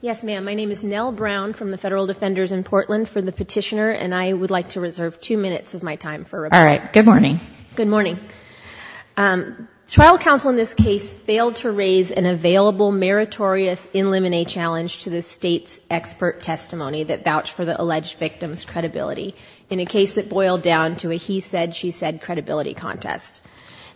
Yes, ma'am. My name is Nell Brown from the Federal Defenders in Portland for the Petitioner, and I would like to reserve two minutes of my time for rebuttal. All right. Good morning. Good morning. Trial counsel in this case failed to raise an available meritorious in limine challenge to the state's expert testimony that vouched for the alleged victim's credibility in a case that boiled down to a he said, she said credibility contest.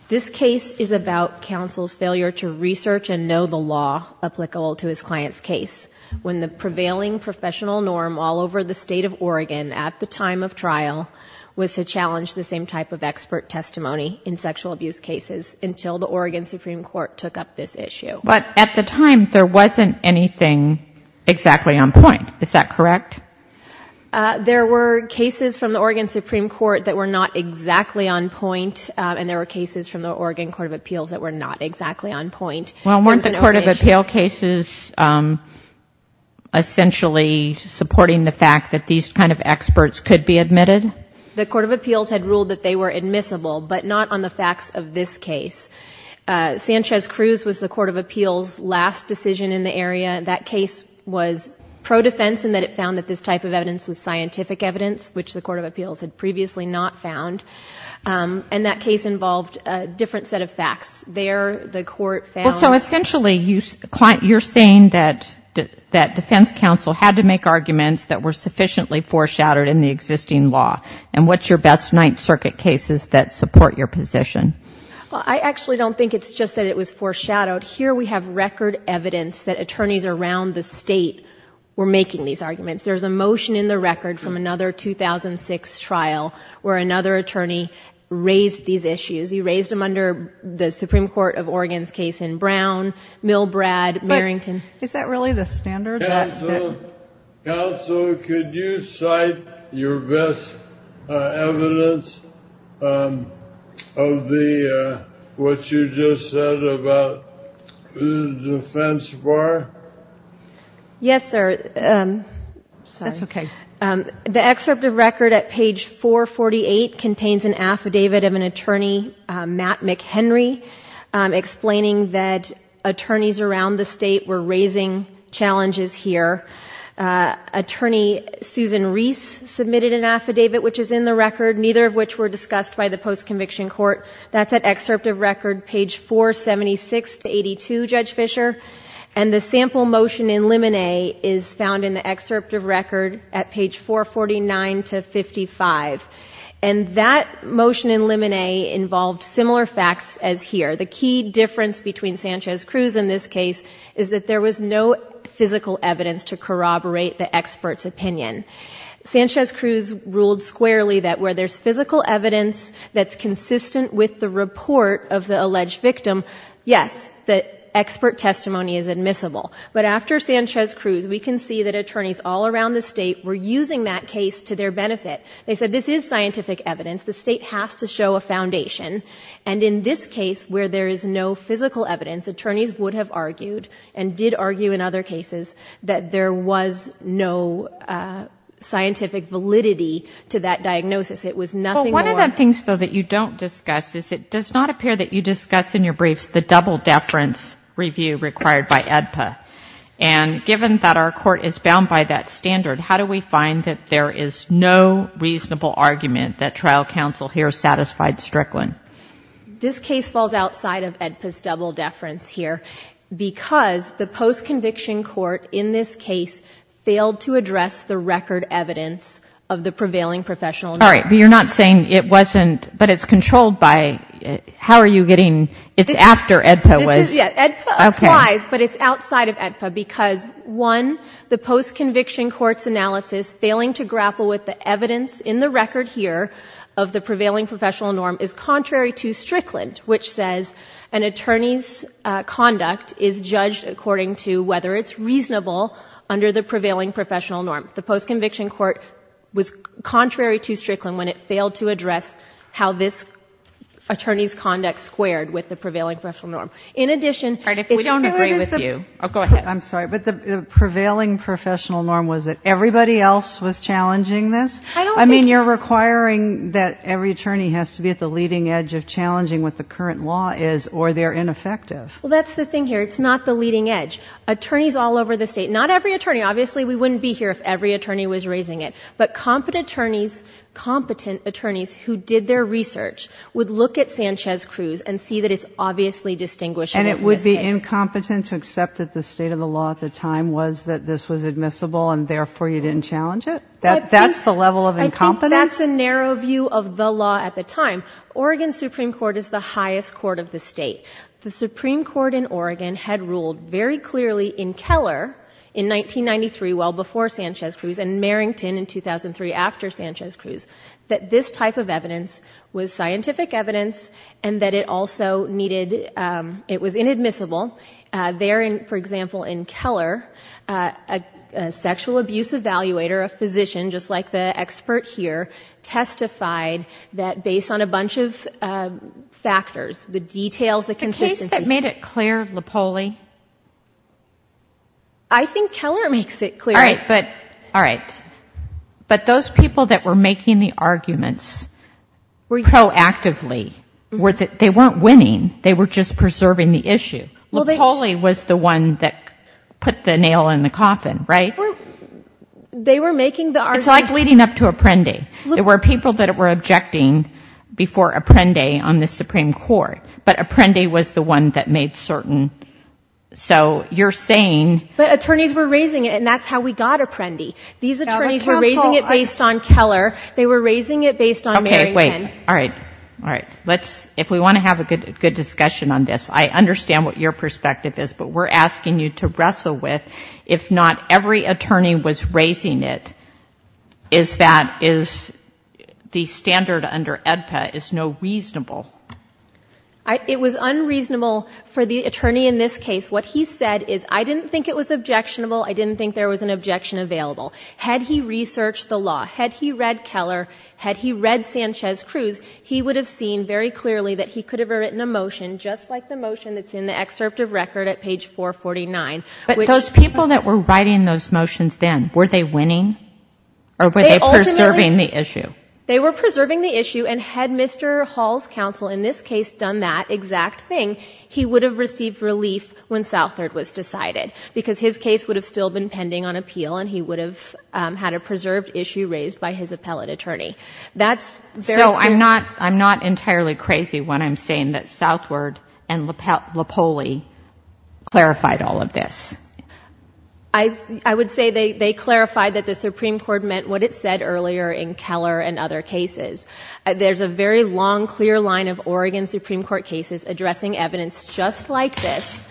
This case is about counsel's failure to research and know the law applicable to his client's case when the prevailing professional norm all over the state of Oregon at the time of trial was to challenge the same type of expert testimony in sexual abuse cases until the Oregon Supreme Court took up this issue. But at the time, there wasn't anything exactly on point. Is that correct? There were cases from the Oregon Supreme Court that were not exactly on point, and there were cases from the Oregon Court of Appeals that were not exactly on point. Well, weren't the Court of Appeal cases essentially supporting the fact that these kind of experts could be admitted? The Court of Appeals had ruled that they were admissible, but not on the facts of this case. Sanchez-Cruz was the Court of Appeals' last decision in the area. That case was pro-defense in that it found that this type of evidence was scientific evidence, which the Court of Appeals had previously not found. And that case involved a different set of facts. There, the Court found... Well, so essentially, you're saying that defense counsel had to make arguments that were sufficiently foreshadowed in the existing law. And what's your best Ninth Circuit cases that support your position? Well, I actually don't think it's just that it was foreshadowed. Here we have record evidence that attorneys around the state were making these arguments. There's a motion in the record from another 2006 trial where another attorney raised these issues. He raised them under the Supreme Court of Oregon's case in Brown, Milbrad, Marrington. Is that really the standard that... Counsel, counsel, could you cite your best evidence of the, what you just said about the defense bar? Sorry. That's okay. The excerpt of record at page 448 contains an affidavit of an attorney, Matt McHenry, explaining that attorneys around the state were raising challenges here. Attorney Susan Reese submitted an affidavit, which is in the record, neither of which were discussed by the post-conviction court. That's at excerpt of record, page 476 to 82, Judge Fischer. And the sample motion in limine is found in the excerpt of record at page 449 to 55. And that motion in limine involved similar facts as here. The key difference between Sanchez-Cruz in this case is that there was no physical evidence to corroborate the expert's opinion. Sanchez-Cruz ruled squarely that where there's physical evidence that's consistent with the testimony is admissible. But after Sanchez-Cruz, we can see that attorneys all around the state were using that case to their benefit. They said this is scientific evidence. The state has to show a foundation. And in this case, where there is no physical evidence, attorneys would have argued and did argue in other cases that there was no scientific validity to that diagnosis. It was nothing more... Well, one of the things, though, that you don't discuss is it does not appear that you And given that our court is bound by that standard, how do we find that there is no reasonable argument that trial counsel here satisfied Strickland? This case falls outside of AEDPA's double deference here because the post-conviction court in this case failed to address the record evidence of the prevailing professional... All right. But you're not saying it wasn't... but it's controlled by... how are you getting... it's after AEDPA was... AEDPA applies, but it's outside of AEDPA because, one, the post-conviction court's analysis failing to grapple with the evidence in the record here of the prevailing professional norm is contrary to Strickland, which says an attorney's conduct is judged according to whether it's reasonable under the prevailing professional norm. The post-conviction court was contrary to Strickland when it failed to address how this attorney's conduct squared with the prevailing professional norm. In addition... All right. If we don't agree with you... Oh, go ahead. I'm sorry, but the prevailing professional norm was that everybody else was challenging this? I don't think... I mean, you're requiring that every attorney has to be at the leading edge of challenging what the current law is or they're ineffective. Well, that's the thing here. It's not the leading edge. Attorneys all over the state, not every attorney, obviously we wouldn't be here if every attorney was raising it, but competent attorneys who did their research would look at Sanchez-Cruz and see that it's obviously distinguishing... And it would be incompetent to accept that the state of the law at the time was that this was admissible and therefore you didn't challenge it? That's the level of incompetence? I think that's a narrow view of the law at the time. Oregon Supreme Court is the highest court of the state. The Supreme Court in Oregon had ruled very clearly in Keller in 1993, well before Sanchez-Cruz, and Merrington in 2003 after Sanchez-Cruz, that this type of evidence was scientific evidence and that it also needed... it was inadmissible. There, for example, in Keller, a sexual abuse evaluator, a physician, just like the expert here, testified that based on a bunch of factors, the details, the consistency... The case that made it clear, Lopoli? I think Keller makes it clear. All right, but those people that were making the arguments proactively, they weren't winning. They were just preserving the issue. Lopoli was the one that put the nail in the coffin, right? They were making the arguments... It's like leading up to Apprendi. There were people that were objecting before Apprendi on the Supreme Court, but Apprendi was the one that made certain... so you're saying... But attorneys were raising it, and that's how we got Apprendi. These attorneys were raising it based on Keller. They were raising it based on Merrington. Okay, wait. All right. All right. Let's... if we want to have a good discussion on this, I understand what your perspective is, but we're asking you to wrestle with, if not every attorney was raising it, is that... is the standard under AEDPA is no reasonable? It was unreasonable for the attorney in this case. What he said is, I didn't think it was objectionable, I didn't think there was an objection available. Had he researched the law, had he read Keller, had he read Sanchez-Cruz, he would have seen very clearly that he could have written a motion just like the motion that's in the excerpt of record at page 449, which... But those people that were writing those motions then, were they winning, or were they preserving the issue? They were preserving the issue, and had Mr. Hall's counsel in this case done that exact thing, he would have received relief when Southward was decided, because his case would have still been pending on appeal, and he would have had a preserved issue raised by his appellate attorney. That's very... So, I'm not entirely crazy when I'm saying that Southward and Lopoli clarified all of this? I would say they clarified that the Supreme Court meant what it said earlier in Keller and other cases. There's a very long, clear line of Oregon Supreme Court cases addressing evidence just like this,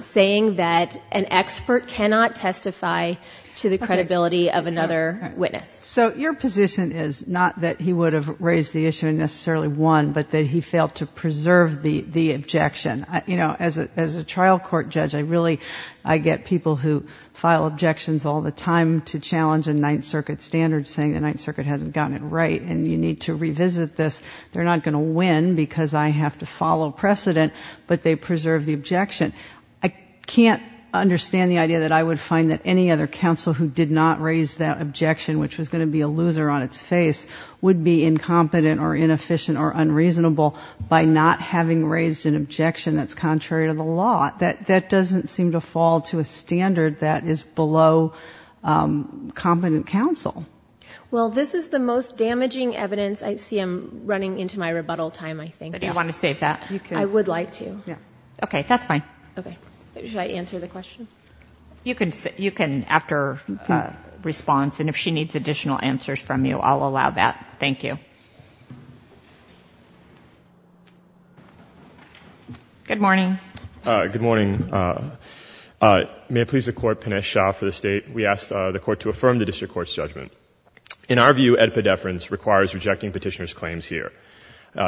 saying that an expert cannot testify to the credibility of another witness. So your position is not that he would have raised the issue and necessarily won, but that he failed to preserve the objection. You know, as a trial court judge, I get people who file objections all the time to challenge the Ninth Circuit standards, saying the Ninth Circuit hasn't gotten it right, and you need to revisit this. They're not going to win, because I have to follow precedent, but they preserve the objection. I can't understand the idea that I would find that any other counsel who did not raise that objection, which was going to be a loser on its face, would be incompetent or inefficient or unreasonable by not having raised an objection that's contrary to the law. That doesn't seem to fall to a standard that is below competent counsel. Well, this is the most damaging evidence. I see I'm running into my rebuttal time, I think. Do you want to save that? You can. I would like to. Okay. That's fine. Okay. Should I answer the question? You can, after response, and if she needs additional answers from you, I'll allow that. Thank you. Good morning. Good morning. Good morning. May it please the Court, Pinesh Shah for the State. We ask the Court to affirm the District Court's judgment. In our view, Ed Pedefrans requires rejecting Petitioner's claims here.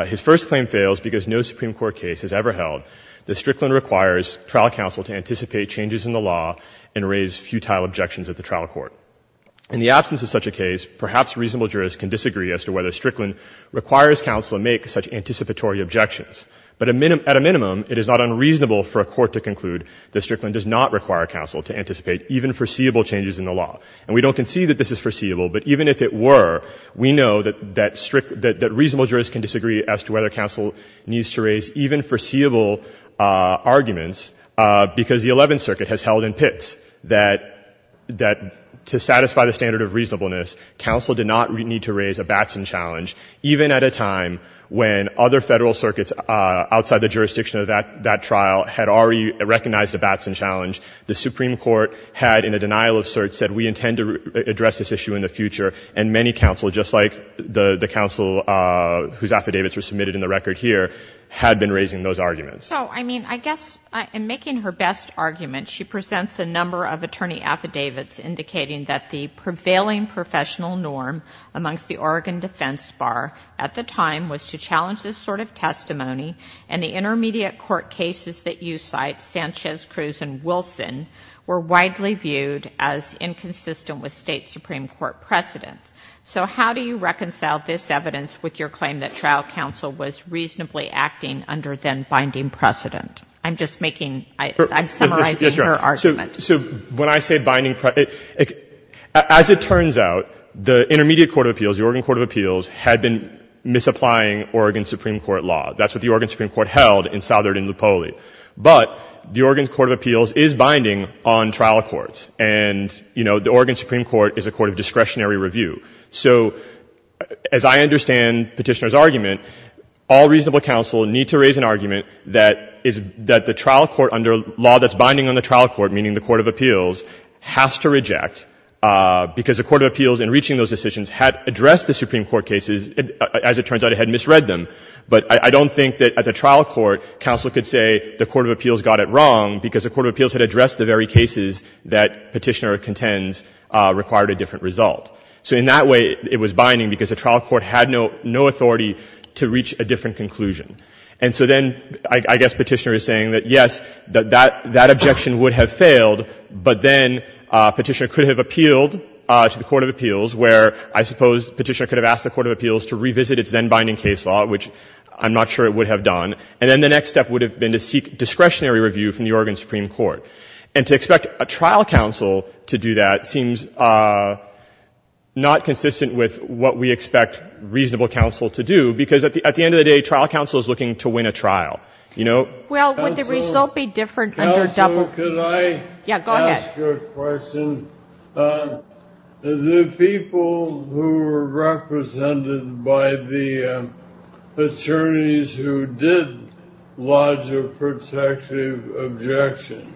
His first claim fails because no Supreme Court case has ever held that Strickland requires trial counsel to anticipate changes in the law and raise futile objections at the trial court. In the absence of such a case, perhaps reasonable jurists can disagree as to whether Strickland requires counsel to make such anticipatory objections, but at a minimum, it is not unreasonable for a court to conclude that Strickland does not require counsel to anticipate even foreseeable changes in the law. And we don't concede that this is foreseeable, but even if it were, we know that reasonable jurists can disagree as to whether counsel needs to raise even foreseeable arguments because the Eleventh Circuit has held in pits that to satisfy the standard of reasonableness, counsel did not need to raise a Batson challenge, even at a time when other Federal circuits outside the jurisdiction of that trial had already recognized a Batson challenge. The Supreme Court had, in a denial of cert, said, we intend to address this issue in the future, and many counsel, just like the counsel whose affidavits were submitted in the record here, had been raising those arguments. So, I mean, I guess in making her best argument, she presents a number of attorney affidavits indicating that the prevailing professional norm amongst the Oregon defense bar at the time was to challenge this sort of testimony, and the intermediate court cases that you cite, Sanchez, Cruz, and Wilson, were widely viewed as inconsistent with State Supreme Court precedents. So how do you reconcile this evidence with your claim that trial counsel was reasonably acting under then-binding precedent? I'm just making — I'm summarizing her argument. MR. STEINWALD. Yes, Your Honor. The Oregon Supreme Court is applying Oregon Supreme Court law. That's what the Oregon Supreme Court held in Southern and Lupoli. But the Oregon Court of Appeals is binding on trial courts, and, you know, the Oregon Supreme Court is a court of discretionary review. So as I understand Petitioner's argument, all reasonable counsel need to raise an argument that is — that the trial court under law that's binding on the trial court, meaning the Court of Appeals, has to reject, because the Court of Appeals, in reaching those decisions, had addressed the Supreme Court cases. As it turns out, it had misread them. But I don't think that at the trial court, counsel could say the Court of Appeals got it wrong because the Court of Appeals had addressed the very cases that Petitioner contends required a different result. So in that way, it was binding because the trial court had no authority to reach a different conclusion. And so then I guess Petitioner is saying that, yes, that objection would have failed, but then Petitioner could have appealed to the Court of Appeals, where I suppose Petitioner could have asked the Court of Appeals to revisit its then-binding case law, which I'm not sure it would have done, and then the next step would have been to seek discretionary review from the Oregon Supreme Court. And to expect a trial counsel to do that seems not consistent with what we expect reasonable counsel to do, because at the end of the day, trial counsel is looking to win a trial. You know? Well, would the result be different under double... Counsel, could I... Yeah, go ahead.... ask a question? The people who were represented by the attorneys who did lodge a protective objection,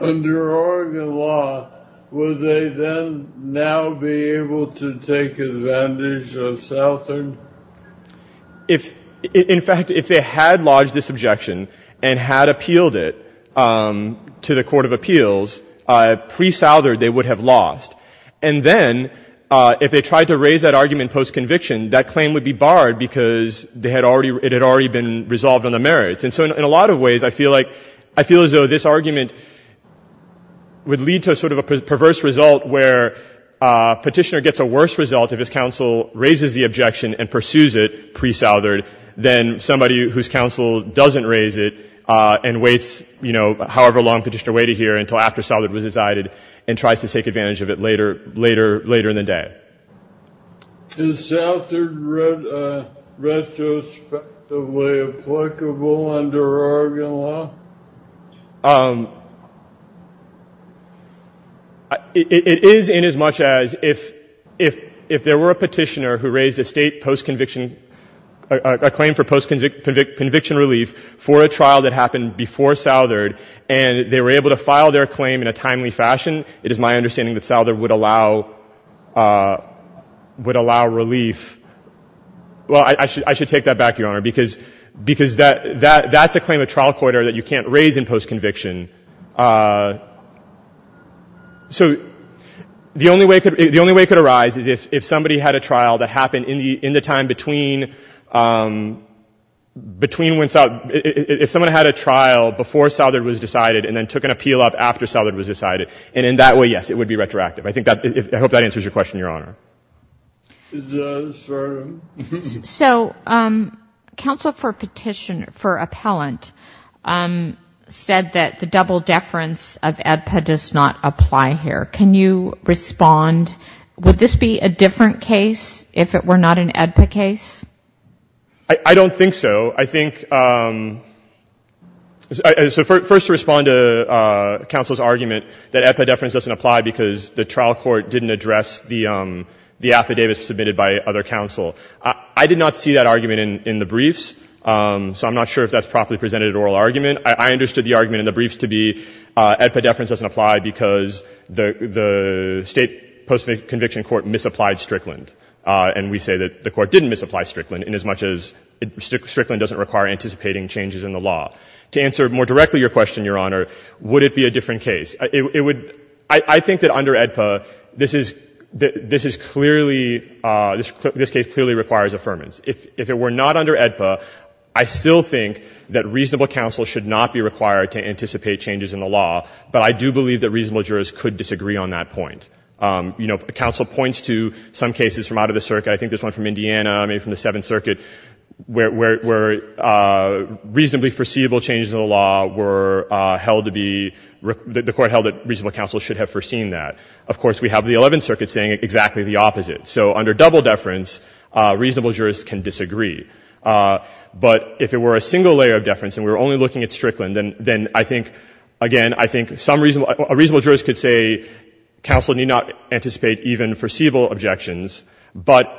under Oregon law, would they then now be able to take advantage of Southern? If, in fact, if they had lodged this objection and had appealed it to the Court of Appeals, pre-Southern they would have lost. And then if they tried to raise that argument post-conviction, that claim would be barred because they had already — it had already been resolved on the merits. And so in a lot of ways, I feel like — I feel as though this argument would lead to sort of a perverse result where Petitioner gets a worse result if his counsel raises the objection and pursues it pre-Southern than somebody whose counsel doesn't raise it and waits, you know, however long Petitioner waited here until after Southern was decided and tries to take advantage of it later in the day. Is Southern retrospectively applicable under Oregon law? It is inasmuch as if there were a Petitioner who raised a state post-conviction — a claim for post-conviction relief for a trial that happened before Southern and they were able to file their claim in a timely fashion, it is my understanding that Southern would allow — would allow relief — well, I should take that back, Your Honor, because that's a claim of trial corridor that you can't raise in post-conviction. So the only way it could arise is if somebody had a trial that happened in the time between — if someone had a trial before Southern was decided and then took an appeal up after Southern was decided. And in that way, yes, it would be retroactive. I think that — I hope that answers your question, Your Honor. It does, Your Honor. So counsel for Petitioner — for Appellant said that the double deference of AEDPA does not apply here. Can you respond — would this be a different case if it were not an AEDPA case? I don't think so. I think — so first to respond to counsel's argument that AEDPA deference doesn't apply because the trial court didn't address the affidavits submitted by other counsel. I did not see that argument in the briefs, so I'm not sure if that's properly presented at oral argument. I understood the argument in the briefs to be AEDPA deference doesn't apply because the State Post-Conviction Court misapplied Strickland. And we say that the Court didn't misapply Strickland inasmuch as Strickland doesn't require anticipating changes in the law. To answer more directly your question, Your Honor, would it be a different case? It would — I think that under AEDPA, this is — this is clearly — this case clearly requires affirmance. If it were not under AEDPA, I still think that reasonable counsel should not be required to anticipate changes in the law, but I do believe that reasonable jurors could disagree on that point. You know, counsel points to some cases from out of the circuit. I think there's one from Indiana, maybe from the Seventh Circuit, where reasonably foreseeable changes in the law were held to be — the Court held that reasonable counsel should have foreseen that. Of course, we have the Eleventh Circuit saying exactly the opposite. So under double deference, reasonable jurors can disagree. But if it were a single layer of deference and we were only looking at Strickland, then I think — again, I think some reasonable — a reasonable juror could say counsel need not anticipate even foreseeable objections, but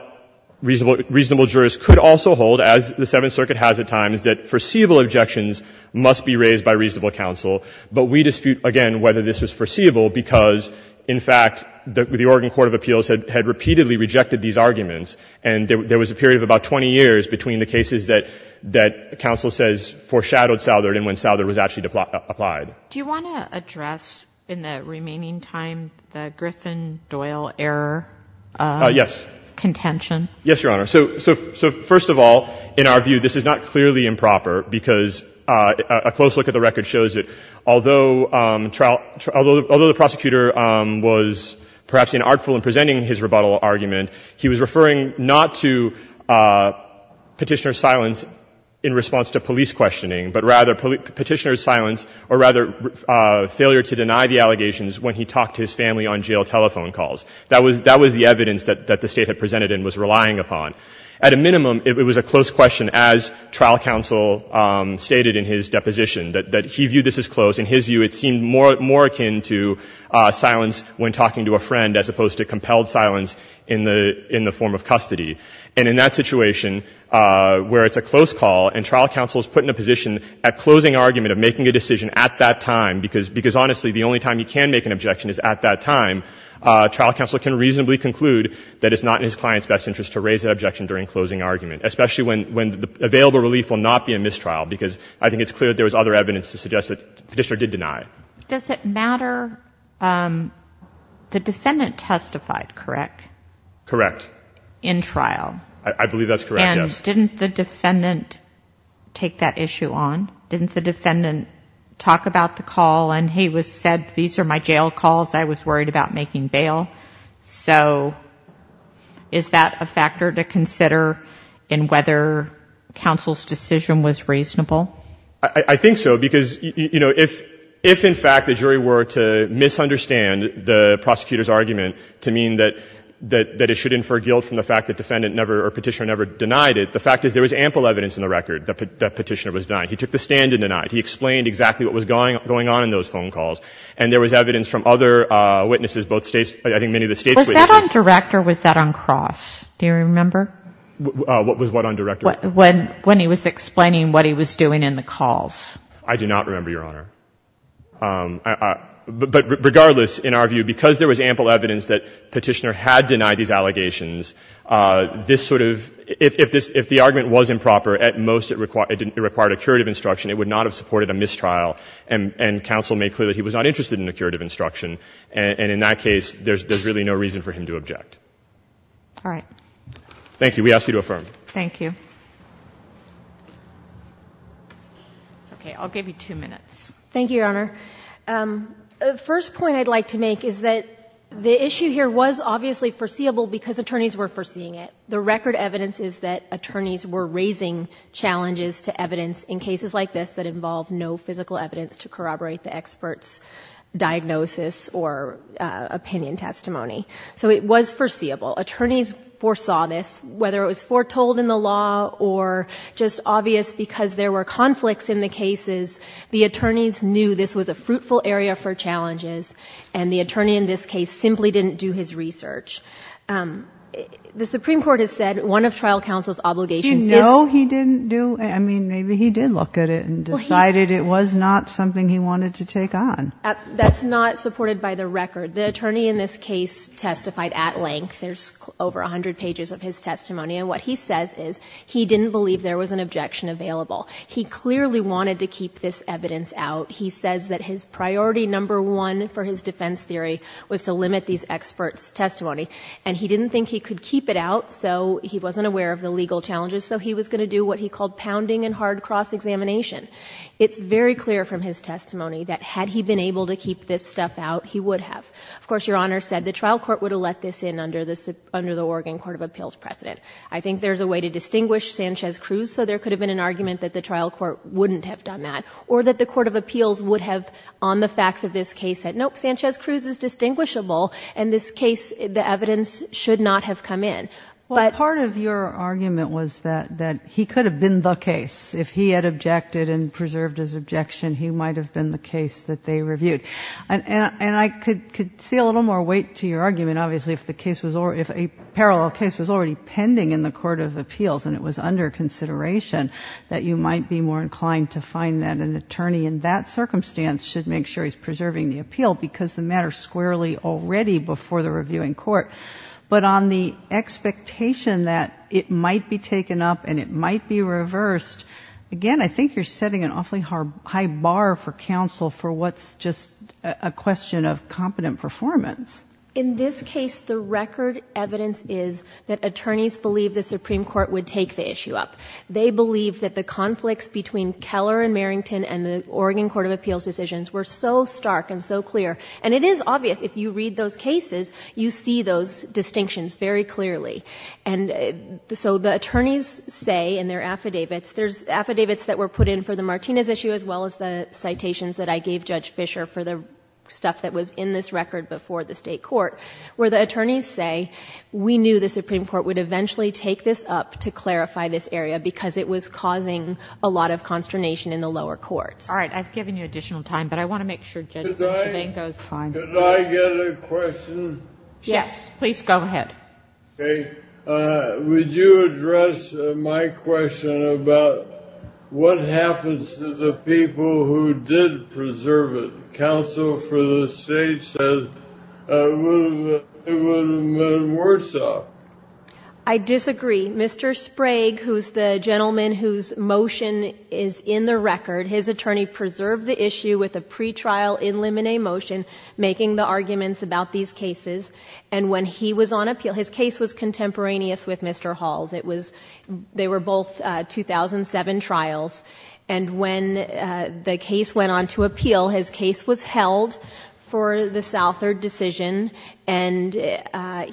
reasonable jurors could also hold, as the Seventh Circuit has at times, that foreseeable objections must be raised by reasonable counsel. But we dispute, again, whether this was foreseeable because, in fact, the Oregon Court of Appeals had — had repeatedly rejected these arguments. And there was a period of about 20 years between the cases that — that counsel says foreshadowed Southern and when Southern was actually applied. Do you want to address in the remaining time the Griffin-Doyle error? Yes. Contention? Yes, Your Honor. So — so — so first of all, in our view, this is not clearly improper because a close look at the record shows that although — although the prosecutor was perhaps inartful in presenting his rebuttal argument, he was referring not to Petitioner's silence in response to police questioning, but rather Petitioner's silence or rather failure to deny the allegations when he talked to his family on jail telephone calls. That was — that was the evidence that — that the State had presented and was relying upon. At a minimum, it was a close question, as trial counsel stated in his deposition, that he viewed this as close. In his view, it seemed more — more akin to silence when talking to a friend as opposed to compelled silence in the — in the form of custody. And in that situation, where it's a close call and trial counsel is put in a position at closing argument of making a decision at that time, because — because, honestly, the only time he can make an objection is at that time, trial counsel can reasonably conclude that it's not in his client's best interest to raise that objection during closing argument, especially when — when the available relief will not be a mistrial, because I think it's clear that there was other evidence to suggest that Petitioner did deny. Does it matter — the defendant testified, correct? Correct. In trial? I believe that's correct, yes. And didn't the defendant take that issue on? Didn't the defendant talk about the call and he was — said, these are my jail calls, I was worried about making bail? So is that a factor to consider in whether counsel's decision was reasonable? I think so, because, you know, if — if, in fact, the jury were to misunderstand the prosecutor's argument to mean that — that it should infer guilt from the fact that defendant never — or Petitioner never denied it, the fact is there was ample evidence in the record that Petitioner was denying. He took the stand and denied. He explained exactly what was going on in those phone calls. And there was evidence from other witnesses, both States — I think many of the States witnesses — Was that on direct or was that on cross? Do you remember? What was what on direct? When — when he was explaining what he was doing in the calls. I do not remember, Your Honor. But regardless, in our view, because there was ample evidence that Petitioner had denied these allegations, this sort of — if this — if the argument was improper, at most it required a curative instruction, it would not have supported a mistrial. And counsel made clear that he was not interested in a curative instruction. And in that case, there's really no reason for him to object. All right. Thank you. We ask you to affirm. Thank you. Okay. I'll give you two minutes. Thank you, Your Honor. The first point I'd like to make is that the issue here was obviously foreseeable because attorneys were foreseeing it. The record evidence is that attorneys were raising challenges to evidence in cases like this that involved no physical evidence to corroborate the expert's diagnosis or opinion testimony. So it was foreseeable. Attorneys foresaw this, whether it was foretold in the law or just obvious because there were conflicts in the cases. The attorneys knew this was a fruitful area for challenges. And the attorney in this case simply didn't do his research. The Supreme Court has said one of trial counsel's obligations is... You know he didn't do... I mean, maybe he did look at it and decided it was not something he wanted to take on. That's not supported by the record. The attorney in this case testified at length. There's over a hundred pages of his testimony. And what he says is he didn't believe there was an objection available. He clearly wanted to keep this evidence out. He says that his priority number one for his defense theory was to limit these experts' testimony. And he didn't think he could keep it out, so he wasn't aware of the legal challenges. So he was going to do what he called pounding and hard cross-examination. It's very clear from his testimony that had he been able to keep this stuff out, he would have. Of course, Your Honor said the trial court would have let this in under the Oregon Court of Appeals precedent. I think there's a way to distinguish Sanchez-Cruz, so there could have been an argument that the trial court wouldn't have done that. Or that the Court of Appeals would have, on the facts of this case, said nope, Sanchez-Cruz is distinguishable. In this case, the evidence should not have come in. But... Well, part of your argument was that he could have been the case. If he had objected and preserved his objection, he might have been the case that they reviewed. And I could see a little more weight to your argument, obviously, if a parallel case was already pending in the Court of Appeals and it was under consideration that you might be more inclined to find that an attorney in that circumstance should make sure he's before the reviewing court. But on the expectation that it might be taken up and it might be reversed, again, I think you're setting an awfully high bar for counsel for what's just a question of competent performance. In this case, the record evidence is that attorneys believe the Supreme Court would take the issue up. They believe that the conflicts between Keller and Merrington and the Oregon Court of Appeals decisions were so stark and so clear. And it is obvious. If you read those cases, you see those distinctions very clearly. And so the attorneys say in their affidavits, there's affidavits that were put in for the Martinez issue as well as the citations that I gave Judge Fischer for the stuff that was in this record before the state court, where the attorneys say, we knew the Supreme Court would eventually take this up to clarify this area because it was causing a lot of consternation in the lower courts. All right. I've given you additional time. But I want to make sure Judge Fischer goes on. Could I get a question? Yes, please go ahead. Okay. Would you address my question about what happens to the people who did preserve it? Counsel for the state says it would have been worse off. I disagree. Mr. Sprague, who's the gentleman whose motion is in the record, his attorney preserved the pre-trial in limine motion, making the arguments about these cases. And when he was on appeal, his case was contemporaneous with Mr. Hall's. They were both 2007 trials. And when the case went on to appeal, his case was held for the Southard decision. And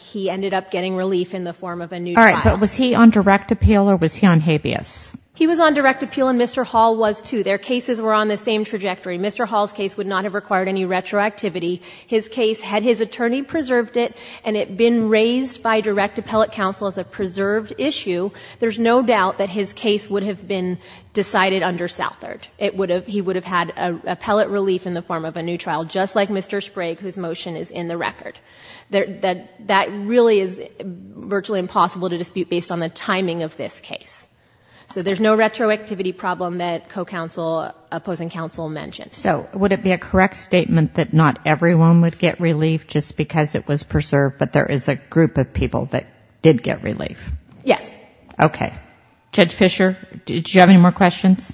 he ended up getting relief in the form of a new trial. All right. But was he on direct appeal or was he on habeas? He was on direct appeal and Mr. Hall was too. Their cases were on the same trajectory. Mr. Hall's case would not have required any retroactivity. His case, had his attorney preserved it and it been raised by direct appellate counsel as a preserved issue, there's no doubt that his case would have been decided under Southard. He would have had appellate relief in the form of a new trial, just like Mr. Sprague, whose motion is in the record. That really is virtually impossible to dispute based on the timing of this case. So there's no retroactivity problem that co-counsel, opposing counsel mentioned. So would it be a correct statement that not everyone would get relief just because it was preserved, but there is a group of people that did get relief? Yes. Okay. Judge Fischer, did you have any more questions?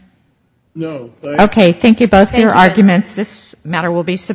No. Okay. Thank you both for your arguments. This matter will be submitted.